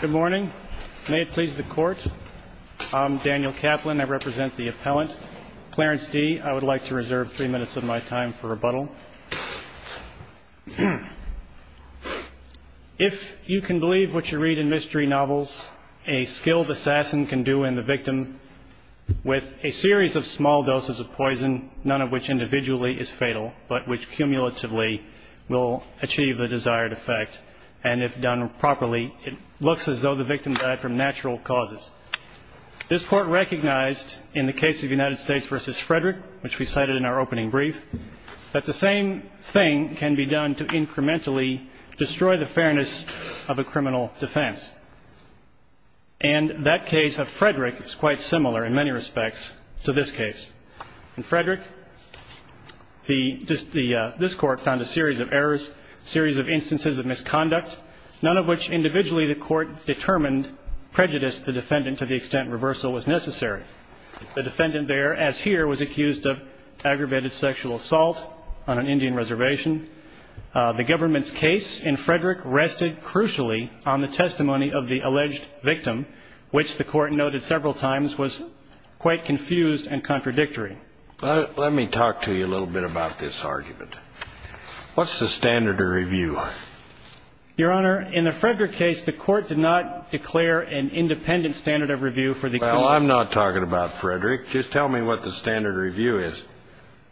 Good morning. May it please the court. I'm Daniel Kaplan. I represent the appellant Clarence Dee. I would like to reserve three minutes of my time for rebuttal. If you can believe what you read in mystery novels, a skilled assassin can do in the victim with a series of small doses of poison, none of which individually is fatal, but which cumulatively will achieve the desired effect. And if done properly, it looks as though the victim died from natural causes. This court recognized in the case of United States v. Frederick, which we cited in our opening brief, that the same thing can be done to incrementally destroy the fairness of a criminal defense. And that case of Frederick is quite similar in many respects to this case. In Frederick, this court found a series of errors, a series of instances of misconduct, none of which individually the court determined prejudiced the defendant to the extent reversal was necessary. The defendant there, as here, was accused of aggravated sexual assault on an Indian reservation. The government's case in Frederick rested crucially on the testimony of the alleged victim, which the court noted several times was quite confused and contradictory. Let me talk to you a little bit about this argument. What's the standard of review? Your Honor, in the Frederick case, the court did not declare an independent standard of review for the accused. Well, I'm not talking about Frederick. Just tell me what the standard review is.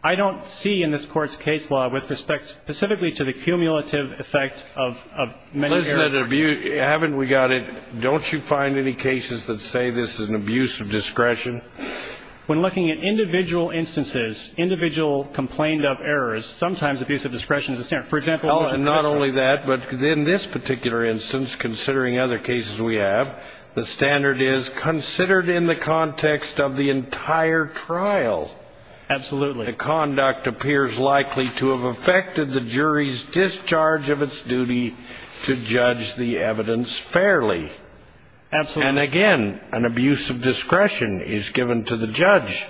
I don't see in this Court's case law with respect specifically to the cumulative effect of many errors. Haven't we got it? Don't you find any cases that say this is an abuse of discretion? When looking at individual instances, individual complained of errors, sometimes abuse of discretion is a standard. For example, not only that, but in this particular instance, considering other cases we have, the standard is considered in the context of the entire trial. Absolutely. The conduct appears likely to have affected the jury's discharge of its duty to judge the evidence fairly. Absolutely. And again, an abuse of discretion is given to the judge.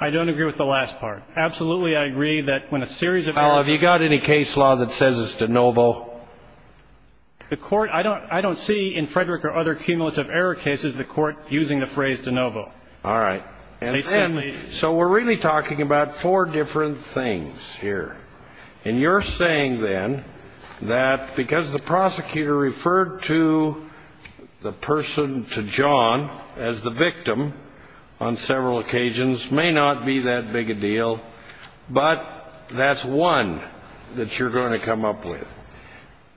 I don't agree with the last part. Absolutely, I agree that when a series of... Well, have you got any case law that says it's de novo? The court, I don't see in Frederick or other cumulative error cases the court using the phrase de novo. All right. So we're really talking about four different things here. And you're saying then that because the prosecutor referred to the person, to John, as the victim, on several occasions may not be that big a deal, but that's one that you're going to come up with.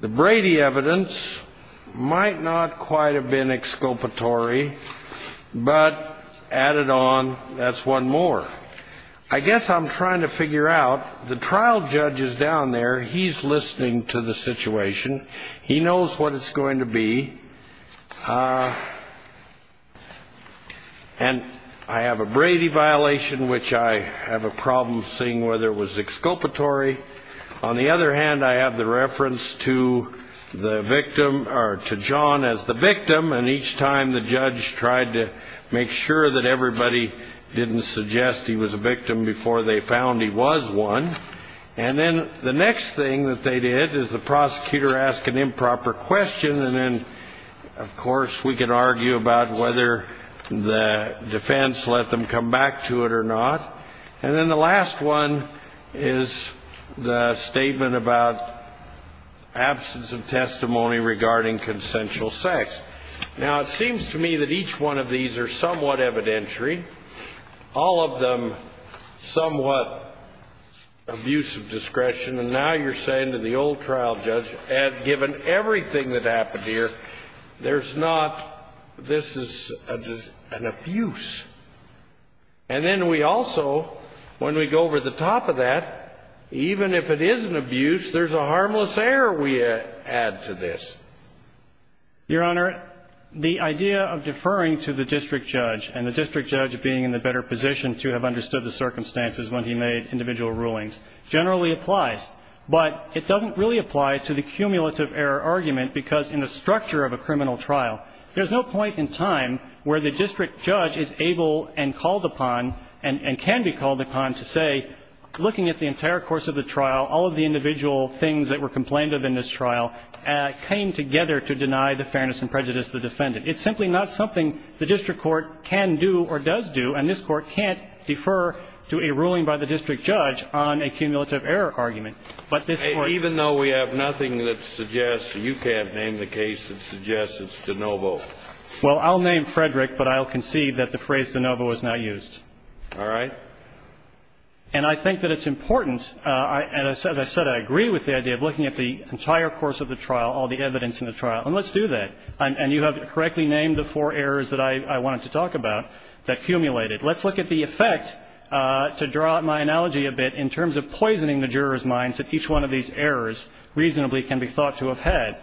The Brady evidence might not quite have been exculpatory, but added on, that's one more. I guess I'm trying to figure out, the trial judge is down there. He's listening to the situation. He knows what it's going to be. And I have a Brady violation, which I have a problem seeing whether it was exculpatory. On the other hand, I have the reference to the victim or to John as the victim, and each time the judge tried to make sure that everybody didn't suggest he was a victim before they found he was one. And then the next thing that they did is the prosecutor asked an improper question, and then, of course, we can argue about whether the defense let them come back to it or not. And then the last one is the statement about absence of testimony regarding consensual sex. Now, it seems to me that each one of these are somewhat evidentiary, all of them somewhat abuse of discretion, and now you're saying to the old trial judge, given everything that happened here, there's not, this is an abuse. And then we also, when we go over the top of that, even if it is an abuse, there's a harmless error we add to this. Your Honor, the idea of deferring to the district judge and the district judge being in the better position to have understood the circumstances when he made individual rulings generally applies. But it doesn't really apply to the cumulative error argument because in the structure of a criminal trial, there's no point in time where the district judge is able and called upon and can be called upon to say, looking at the entire course of the trial, all of the individual things that were complained of in this trial came together to deny the fairness and prejudice of the defendant. It's simply not something the district court can do or does do, and this Court can't defer to a ruling by the district judge on a cumulative error argument. But this Court Even though we have nothing that suggests, you can't name the case that suggests it's DeNovo. Well, I'll name Frederick, but I'll concede that the phrase DeNovo is not used. All right. And I think that it's important, as I said, I agree with the idea of looking at the entire course of the trial, all the evidence in the trial, and let's do that. And you have correctly named the four errors that I wanted to talk about that accumulated. Let's look at the effect, to draw out my analogy a bit, in terms of poisoning the jurors' minds that each one of these errors reasonably can be thought to have had.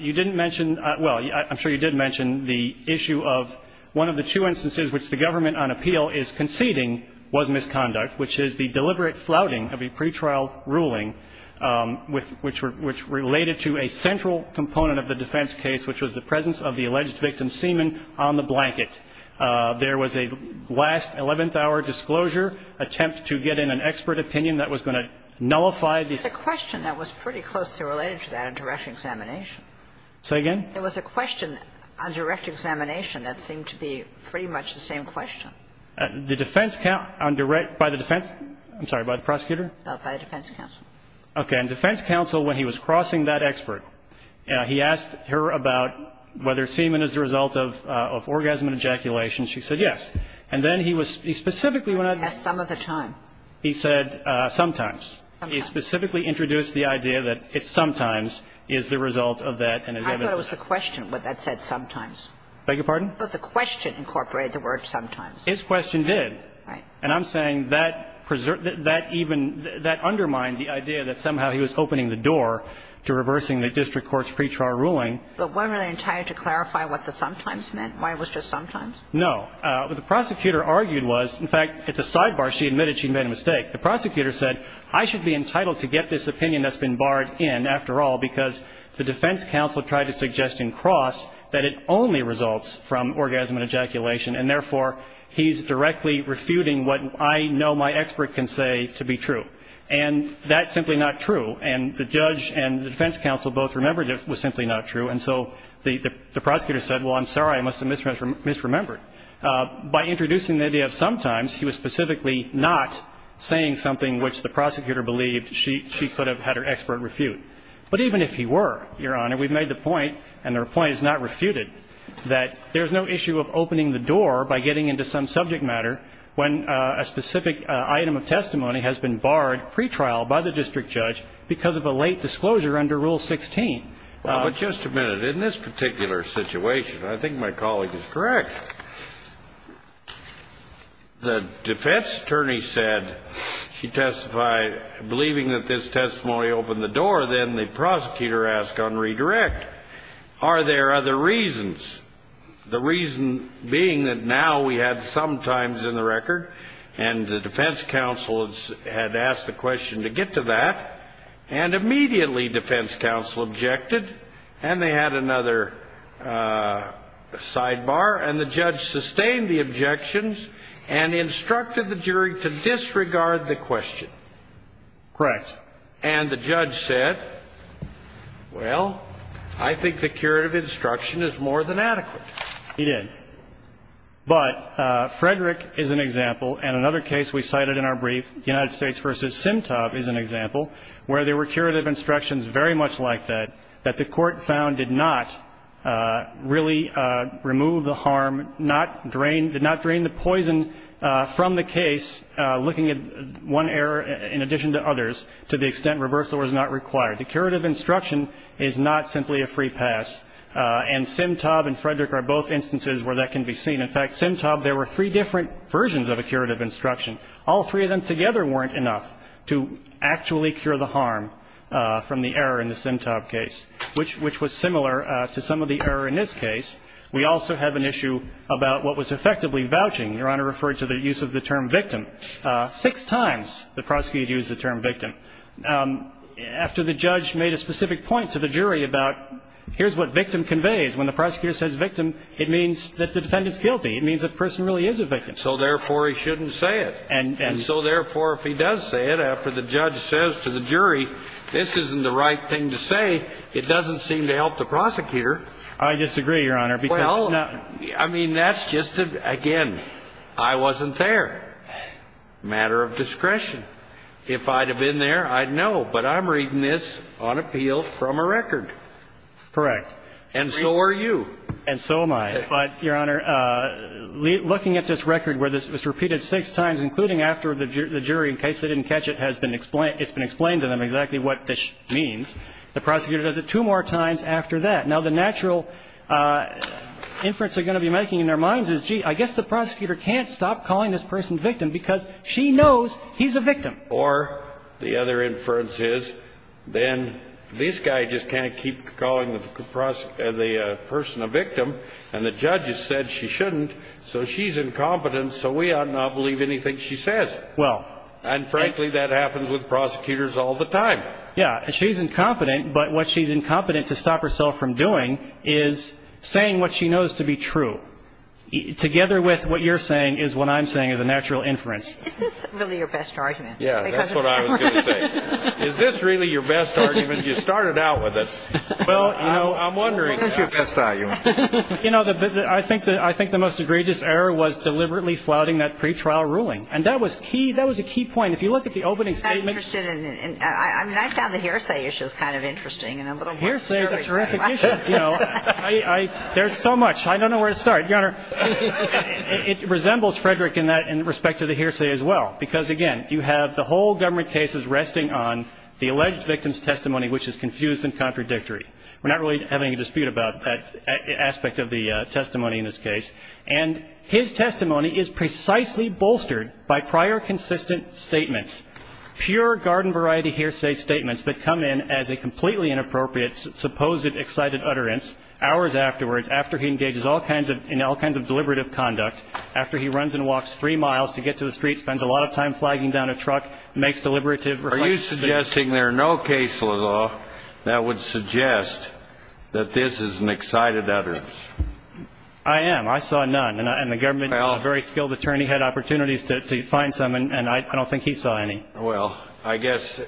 You didn't mention, well, I'm sure you did mention the issue of one of the two instances which the government on appeal is conceding was misconduct, which is the deliberate flouting of a pretrial ruling which related to a central component of the defense case, which was the presence of the alleged victim's semen on the blanket. There was a last 11th-hour disclosure attempt to get in an expert opinion that was going to nullify the ---- There was a question that was pretty closely related to that on direct examination. Say again? There was a question on direct examination that seemed to be pretty much the same question. The defense counsel on direct ---- by the defense ---- I'm sorry, by the prosecutor? By the defense counsel. Okay. And defense counsel, when he was crossing that expert, he asked her about whether semen is the result of orgasm and ejaculation. She said yes. And then he was ---- He specifically when I ---- He asked some of the time. He said sometimes. Sometimes. He specifically introduced the idea that it's sometimes is the result of that. I thought it was the question, what that said, sometimes. Beg your pardon? I thought the question incorporated the word sometimes. His question did. Right. And I'm saying that even ---- that undermined the idea that somehow he was opening the door to reversing the district court's pretrial ruling. But wasn't he entitled to clarify what the sometimes meant? Why it was just sometimes? No. What the prosecutor argued was, in fact, it's a sidebar. She admitted she made a mistake. The prosecutor said I should be entitled to get this opinion that's been barred in, after all, because the defense counsel tried to suggest in Cross that it only results from orgasm and ejaculation, and therefore he's directly refuting what I know my expert can say to be true. And that's simply not true. And the judge and the defense counsel both remembered it was simply not true, and so the prosecutor said, well, I'm sorry, I must have misremembered. By introducing the idea of sometimes, he was specifically not saying something which the prosecutor believed she could have had her expert refute. But even if he were, Your Honor, we've made the point, and the point is not refuted, that there's no issue of opening the door by getting into some subject matter when a specific item of testimony has been barred pretrial by the district judge because of a late disclosure under Rule 16. But just a minute. In this particular situation, I think my colleague is correct. The defense attorney said she testified believing that this testimony opened the door. Then the prosecutor asked on redirect, are there other reasons, the reason being that now we have sometimes in the record, and the defense counsel had asked the question to get to that, and immediately defense counsel objected, and they had another sidebar, and the judge sustained the objections and instructed the jury to disregard the question. Correct. And the judge said, well, I think the curative instruction is more than adequate. He did. But Frederick is an example, and another case we cited in our brief, United States v. Simtob is an example, where there were curative instructions very much like that, that the Court found did not really remove the harm, did not drain the poison from the case, looking at one error in addition to others, to the extent reversal was not required. The curative instruction is not simply a free pass. And Simtob and Frederick are both instances where that can be seen. In fact, Simtob, there were three different versions of a curative instruction. All three of them together weren't enough to actually cure the harm from the error in the Simtob case, which was similar to some of the error in this case. We also have an issue about what was effectively vouching. Your Honor referred to the use of the term victim. Six times the prosecutor used the term victim. After the judge made a specific point to the jury about here's what victim conveys, when the prosecutor says victim, it means that the defendant's guilty. It means the person really is a victim. So, therefore, he shouldn't say it. And so, therefore, if he does say it, after the judge says to the jury, this isn't the right thing to say, it doesn't seem to help the prosecutor. I disagree, Your Honor. Well, I mean, that's just, again, I wasn't there. Matter of discretion. If I'd have been there, I'd know. But I'm reading this on appeal from a record. Correct. And so are you. And so am I. But, Your Honor, looking at this record where this was repeated six times, including after the jury, in case they didn't catch it, it's been explained to them exactly what this means. The prosecutor does it two more times after that. Now, the natural inference they're going to be making in their minds is, gee, I guess the prosecutor can't stop calling this person a victim because she knows he's a victim. Or the other inference is, then this guy just can't keep calling the person a victim, and the judge has said she shouldn't, so she's incompetent, so we ought not believe anything she says. Well. And, frankly, that happens with prosecutors all the time. Yeah. She's incompetent, but what she's incompetent to stop herself from doing is saying what she knows to be true. So together with what you're saying is what I'm saying is a natural inference. Is this really your best argument? Yeah, that's what I was going to say. Is this really your best argument? You started out with it. Well, you know, I'm wondering. What is your best argument? You know, I think the most egregious error was deliberately flouting that pretrial ruling. And that was key. That was a key point. If you look at the opening statement. I found the hearsay issue kind of interesting. Hearsay is a terrific issue. There's so much. I don't know where to start, Your Honor. It resembles Frederick in that in respect to the hearsay as well. Because, again, you have the whole government case is resting on the alleged victim's testimony, which is confused and contradictory. We're not really having a dispute about that aspect of the testimony in this case. And his testimony is precisely bolstered by prior consistent statements, pure garden variety hearsay statements that come in as a completely inappropriate supposed excited utterance hours afterwards after he engages in all kinds of deliberative conduct, after he runs and walks three miles to get to the street, spends a lot of time flagging down a truck, makes deliberative. Are you suggesting there are no cases at all that would suggest that this is an excited utterance? I am. I saw none. And the government, a very skilled attorney, had opportunities to find some. And I don't think he saw any. Well, I guess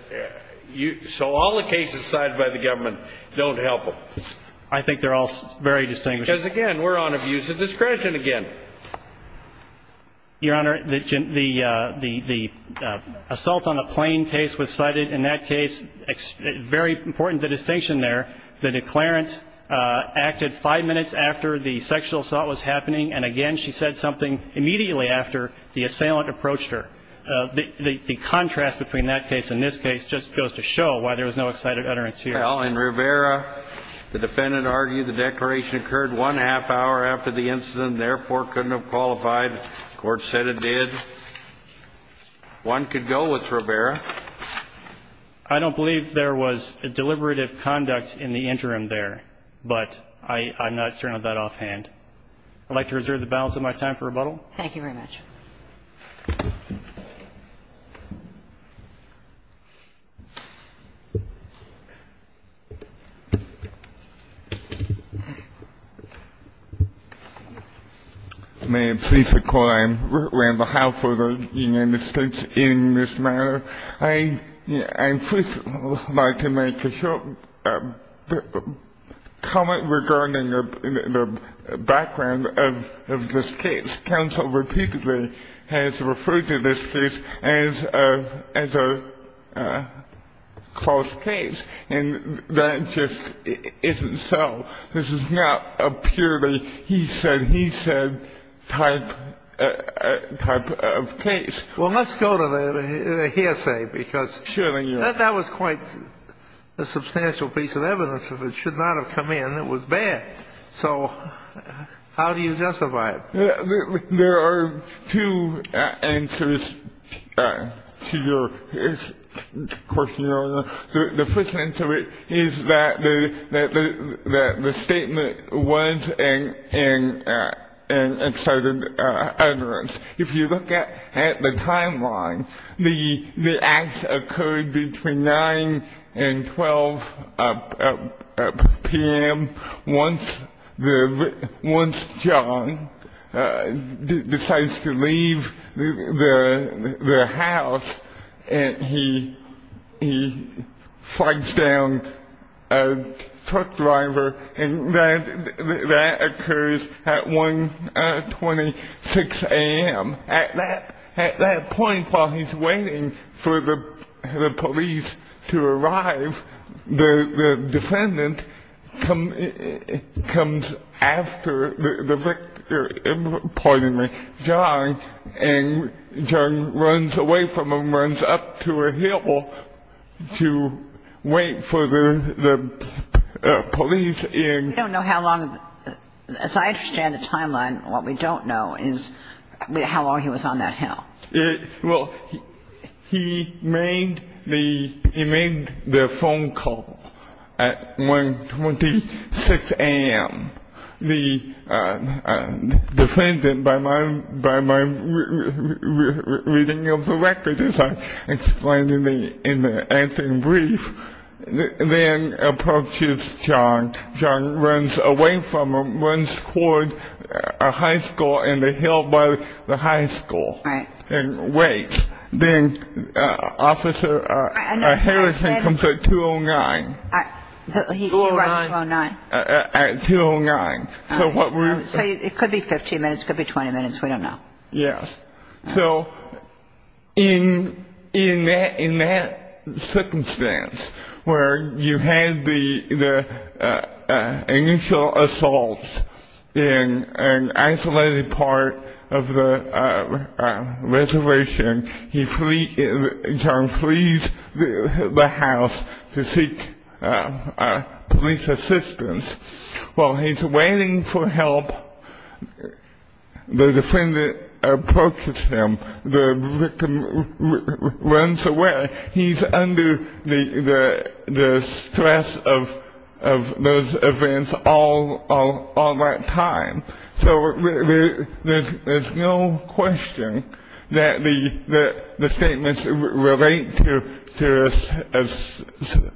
so all the cases cited by the government don't help him. I think they're all very distinguished. Because, again, we're on abuse of discretion again. Your Honor, the assault on a plane case was cited in that case. Very important distinction there. The declarant acted five minutes after the sexual assault was happening. And, again, she said something immediately after the assailant approached her. The contrast between that case and this case just goes to show why there was no excited utterance here. Well, in Rivera, the defendant argued the declaration occurred one half hour after the incident and, therefore, couldn't have qualified. The Court said it did. One could go with Rivera. I don't believe there was a deliberative conduct in the interim there. But I'm not certain of that offhand. I'd like to reserve the balance of my time for rebuttal. Thank you very much. Thank you. May I please recall on behalf of the United States in this matter, I first would like to make a short comment regarding the background of this case. Counsel repeatedly has referred to this case as a false case. And that just isn't so. This is not a purely he said, he said type of case. Well, let's go to the hearsay, because that was quite a substantial piece of evidence. If it should not have come in, it was bad. So how do you justify it? There are two answers to your question, Your Honor. The first answer is that the statement was an excited utterance. If you look at the timeline, the acts occurred between 9 and 12 p.m. Once John decides to leave the house and he fights down a truck driver, and that occurs at 126 a.m. At that point, while he's waiting for the police to arrive, the defendant comes after the victim, pardon me, John, and John runs away from him, runs up to a hill to wait for the police in. We don't know how long, as I understand the timeline, what we don't know is how long he was on that hill. Well, he made the phone call at 126 a.m. The defendant, by my reading of the record as I explained in the answer in brief, then approaches John. John runs away from him, runs toward a high school in the hill by the high school and waits. Then Officer Harrison comes at 209. He arrives at 209? At 209. So it could be 15 minutes. It could be 20 minutes. We don't know. Yes. So in that circumstance where you had the initial assaults in an isolated part of the reservation, John flees the house to seek police assistance. While he's waiting for help, the defendant approaches him. The victim runs away. He's under the stress of those events all that time. So there's no question that the statements relate to a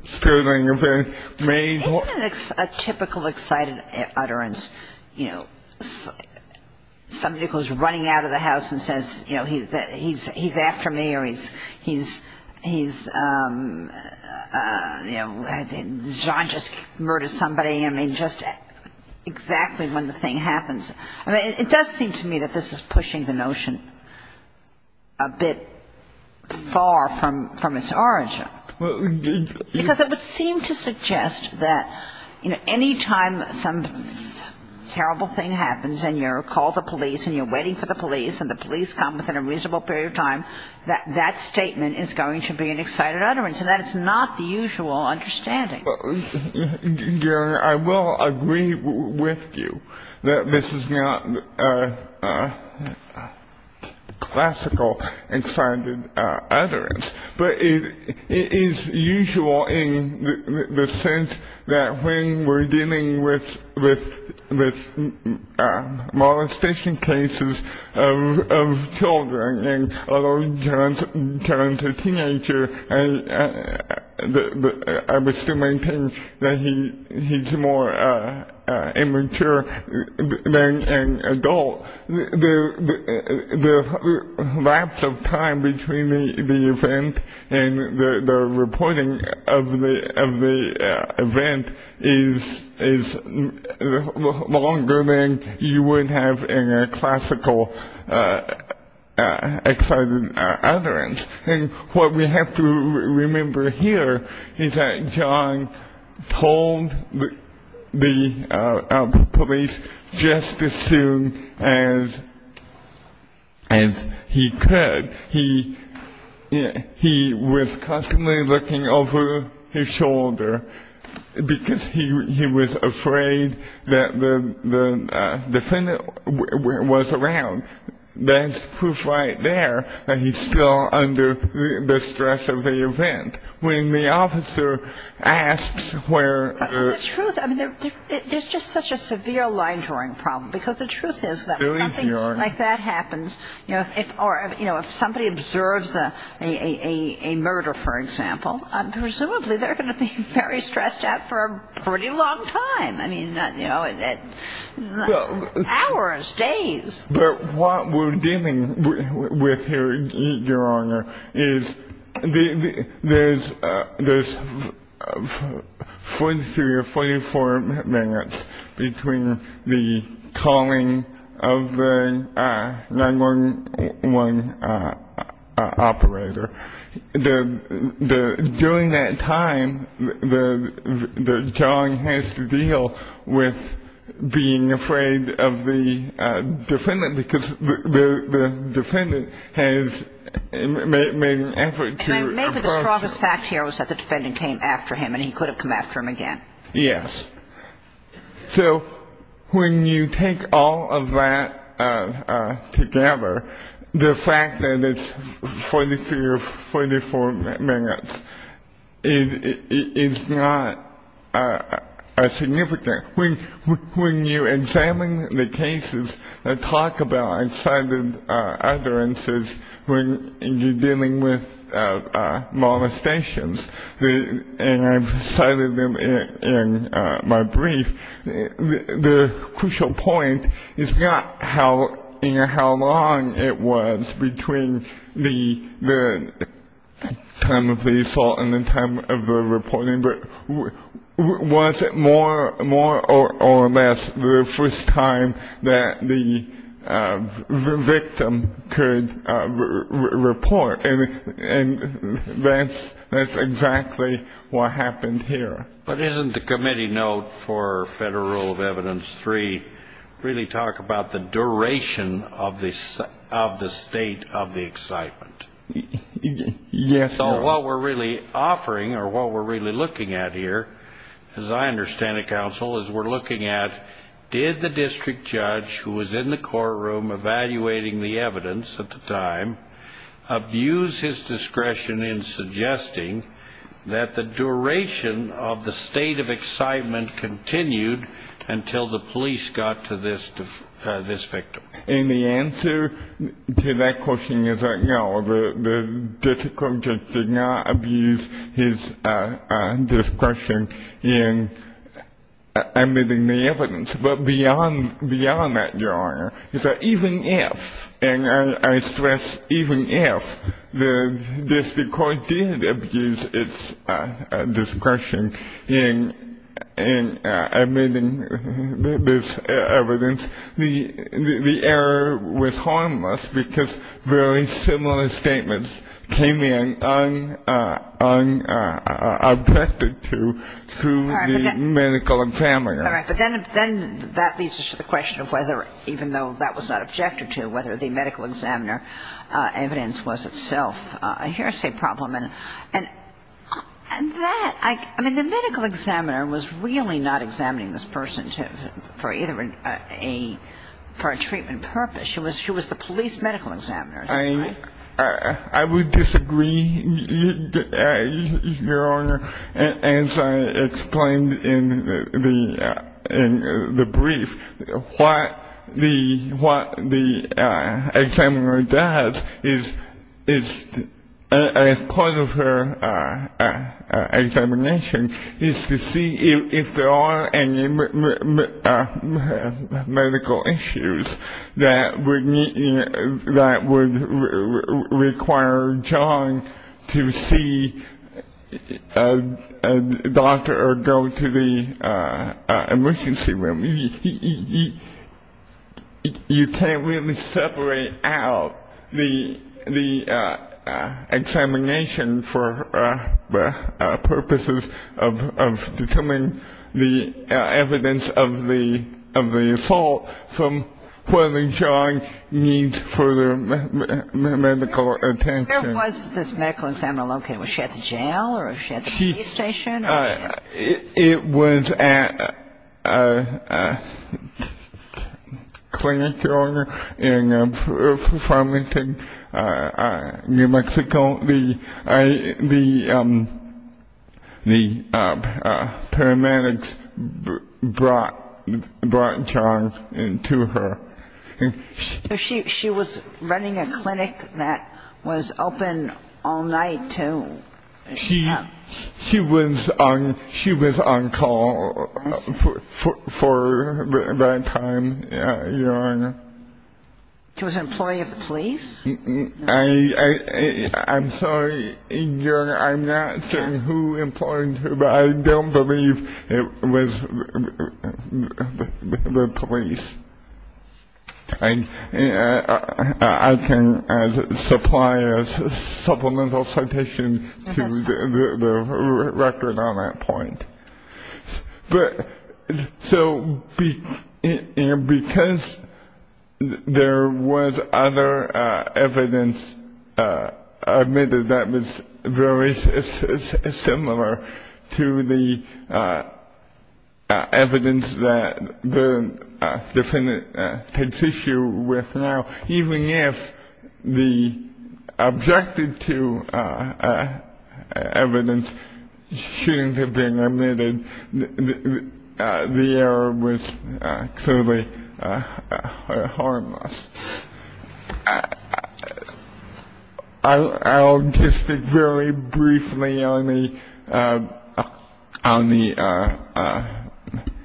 sterling event. Isn't it a typical excited utterance, you know, somebody goes running out of the house and says, you know, he's after me or he's, you know, John just murdered somebody. I mean, just exactly when the thing happens. I mean, it does seem to me that this is pushing the notion a bit far from its origin. Because it would seem to suggest that, you know, any time some terrible thing happens and you're called the police and you're waiting for the police and the police come within a reasonable period of time, that that statement is going to be an excited utterance. And that is not the usual understanding. Gary, I will agree with you that this is not a classical excited utterance. But it is usual in the sense that when we're dealing with molestation cases of children, although John's a teenager, I would still maintain that he's more immature than an adult. The lapse of time between the event and the reporting of the event is longer than you would have in a classical excited utterance. And what we have to remember here is that John told the police just as soon as he could. He was constantly looking over his shoulder because he was afraid that the defendant was around. That's proof right there that he's still under the stress of the event. When the officer asks where... The truth, I mean, there's just such a severe line drawing problem. Because the truth is that when something like that happens, you know, if somebody observes a murder, for example, presumably they're going to be very stressed out for a pretty long time. I mean, you know, hours, days. But what we're dealing with here, Your Honor, is there's 43 or 44 minutes between the calling of the 911 operator. During that time, John has to deal with being afraid of the defendant because the defendant has made an effort to approach... Maybe the strongest fact here was that the defendant came after him and he could have come after him again. Yes. So when you take all of that together, the fact that it's 43 or 44 minutes is not significant. When you examine the cases that talk about incited utterances when you're dealing with molestations, and I've cited them in my brief, the crucial point is not how long it was between the time of the assault and the time of the reporting, but was it more or less the first time that the victim could report. And that's exactly what happened here. But isn't the committee note for Federal Rule of Evidence 3 really talk about the duration of the state of the excitement? Yes, Your Honor. So what we're really offering or what we're really looking at here, as I understand it, counsel, is we're looking at, did the district judge who was in the courtroom evaluating the evidence at the time abuse his discretion in suggesting that the duration of the state of excitement continued until the police got to this victim? And the answer to that question is that no, the district judge did not abuse his discretion in admitting the evidence. But beyond that, Your Honor, is that even if, and I stress even if, the district court did abuse its discretion in admitting this evidence, the error was harmless because very similar statements came in unobjected to, to the medical examiner. All right. But then that leads us to the question of whether, even though that was not objected to, whether the medical examiner evidence was itself a hearsay problem. And that, I mean, the medical examiner was really not examining this person for either a, for a treatment purpose. She was the police medical examiner. I would disagree, Your Honor, as I explained in the brief. What the examiner does is, as part of her examination, is to see if there are any medical issues that would require John to see a doctor or go to the emergency room. I mean, you can't really separate out the examination for purposes of determining the evidence of the assault from whether John needs further medical attention. Where was this medical examiner located? Was she at the jail or was she at the police station? It was at a clinic, Your Honor, in Farmington, New Mexico. The paramedics brought John to her. So she was running a clinic that was open all night? She was on call for that time, Your Honor. She was an employee of the police? I'm sorry, Your Honor, I'm not certain who employed her, but I don't believe it was the police. I can supply a supplemental citation to the record on that point. So because there was other evidence admitted that was very similar to the evidence that the defendant takes issue with now, even if the objective to evidence shouldn't have been admitted, the error was clearly harmless. I'll just speak very briefly on the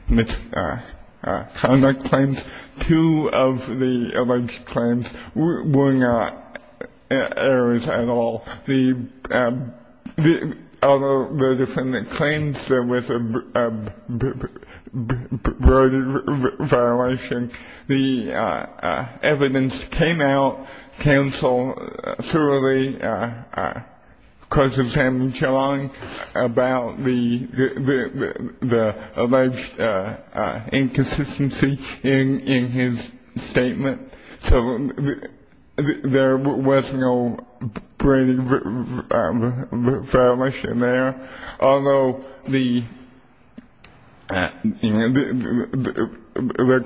misconduct claims. Two of the alleged claims were not errors at all. Although the defendant claims there was a violation, the evidence came out, counsel thoroughly questions him about the alleged inconsistency in his statement. So there was no violation there. Although the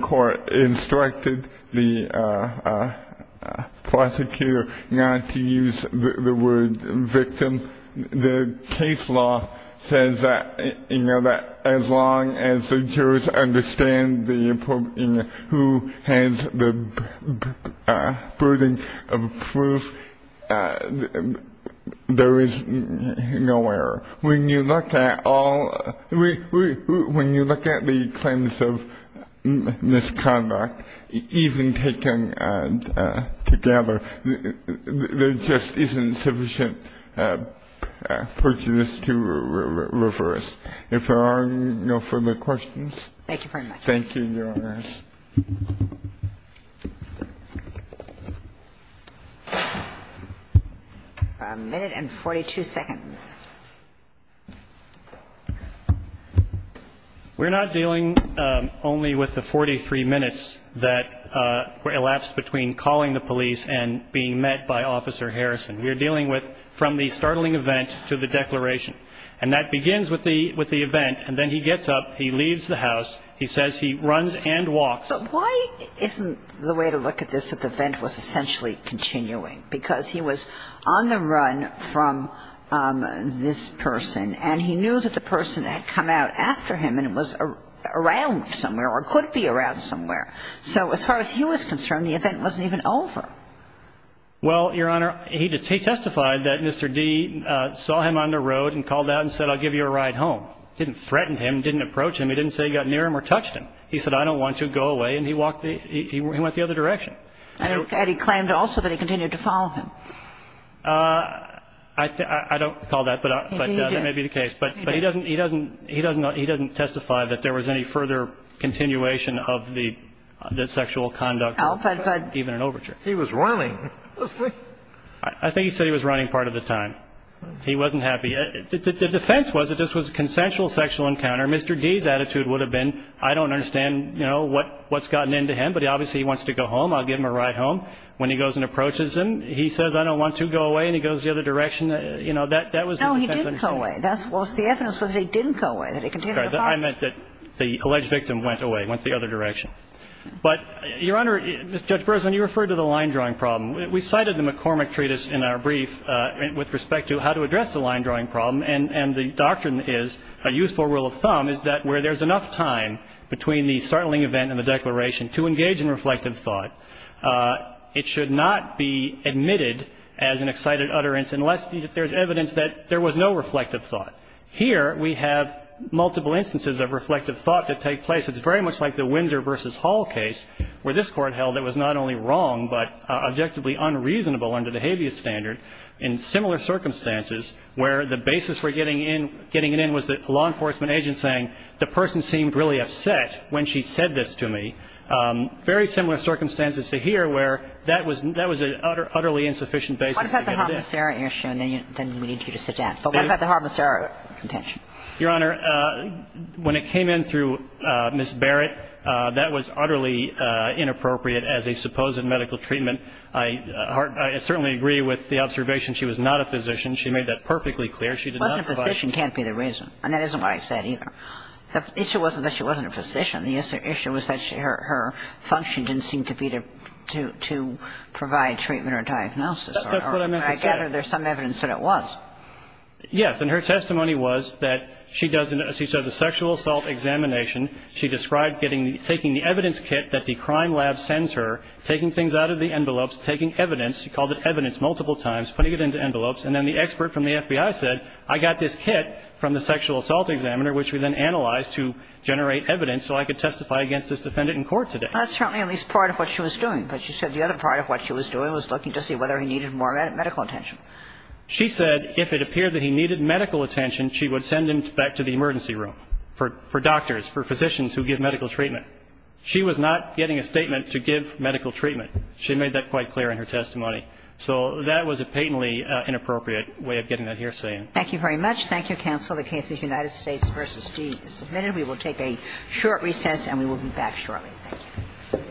court instructed the prosecutor not to use the word victim, the case law says that as long as the jurors understand who has the burden of proof, there is no error. When you look at all – when you look at the claims of misconduct, even taken together, there just isn't sufficient prejudice to reverse. If there are no further questions. Thank you very much. Thank you, Your Honor. We're not dealing only with the 43 minutes that elapsed between calling the police and being met by Officer Harrison. We're dealing with from the startling event to the declaration. And that begins with the event, and then he gets up, he leaves the house, he says he runs and walks. But why isn't the way to look at this that the event was essentially continuing? Because he was on the run from this person, and he knew that the person had come out after him and was around somewhere or could be around somewhere. So as far as he was concerned, the event wasn't even over. Well, Your Honor, he testified that Mr. D. saw him on the road and called out and said, I'll give you a ride home. Didn't threaten him, didn't approach him. He didn't say he got near him or touched him. He said, I don't want to. Go away. And he walked the other direction. And he claimed also that he continued to follow him. I don't recall that, but that may be the case. But he doesn't testify that there was any further continuation of the sexual conduct, even an overture. He was running. I think he said he was running part of the time. He wasn't happy. The defense was that this was a consensual sexual encounter. Mr. D.'s attitude would have been, I don't understand, you know, what's gotten into him. But obviously, he wants to go home. I'll give him a ride home. When he goes and approaches him, he says, I don't want to. Go away. And he goes the other direction. You know, that was the defense. No, he didn't go away. That was the evidence that he didn't go away, that he continued to follow him. I meant that the alleged victim went away, went the other direction. But, Your Honor, Judge Breslin, you referred to the line-drawing problem. We cited the McCormick Treatise in our brief with respect to how to address the line-drawing problem. And the doctrine is, a useful rule of thumb, is that where there's enough time between the startling event and the declaration to engage in reflective thought, it should not be admitted as an excited utterance unless there's evidence that there was no reflective thought. Here, we have multiple instances of reflective thought that take place. It's very much like the Windsor v. Hall case where this Court held it was not only wrong, but objectively unreasonable under the habeas standard in similar circumstances where the basis for getting in, getting it in, was the law enforcement agent saying, the person seemed really upset when she said this to me. Very similar circumstances to here where that was an utterly insufficient basis to get it in. What about the harmicera issue? And then we need you to sit down. But what about the harmicera contention? Your Honor, when it came in through Ms. Barrett, that was utterly inappropriate as a supposed medical treatment. I certainly agree with the observation she was not a physician. She made that perfectly clear. She did not find the reason. Well, a physician can't be the reason. And that isn't what I said either. The issue wasn't that she wasn't a physician. The issue was that her function didn't seem to be to provide treatment or diagnosis. That's what I meant to say. I gather there's some evidence that it was. Yes. And her testimony was that she does a sexual assault examination. She described taking the evidence kit that the crime lab sends her, taking things out of the envelopes, taking evidence. She called it evidence multiple times, putting it into envelopes. And then the expert from the FBI said, I got this kit from the sexual assault examiner, which we then analyzed to generate evidence so I could testify against this defendant in court today. That's certainly at least part of what she was doing. But she said the other part of what she was doing was looking to see whether he needed more medical attention. She said if it appeared that he needed medical attention, she would send him back to the emergency room for doctors, for physicians who give medical treatment. She was not getting a statement to give medical treatment. She made that quite clear in her testimony. So that was a patently inappropriate way of getting that hearsay in. Thank you very much. Thank you, counsel. The case of United States v. Dee is submitted. We will take a short recess and we will be back shortly. Thank you.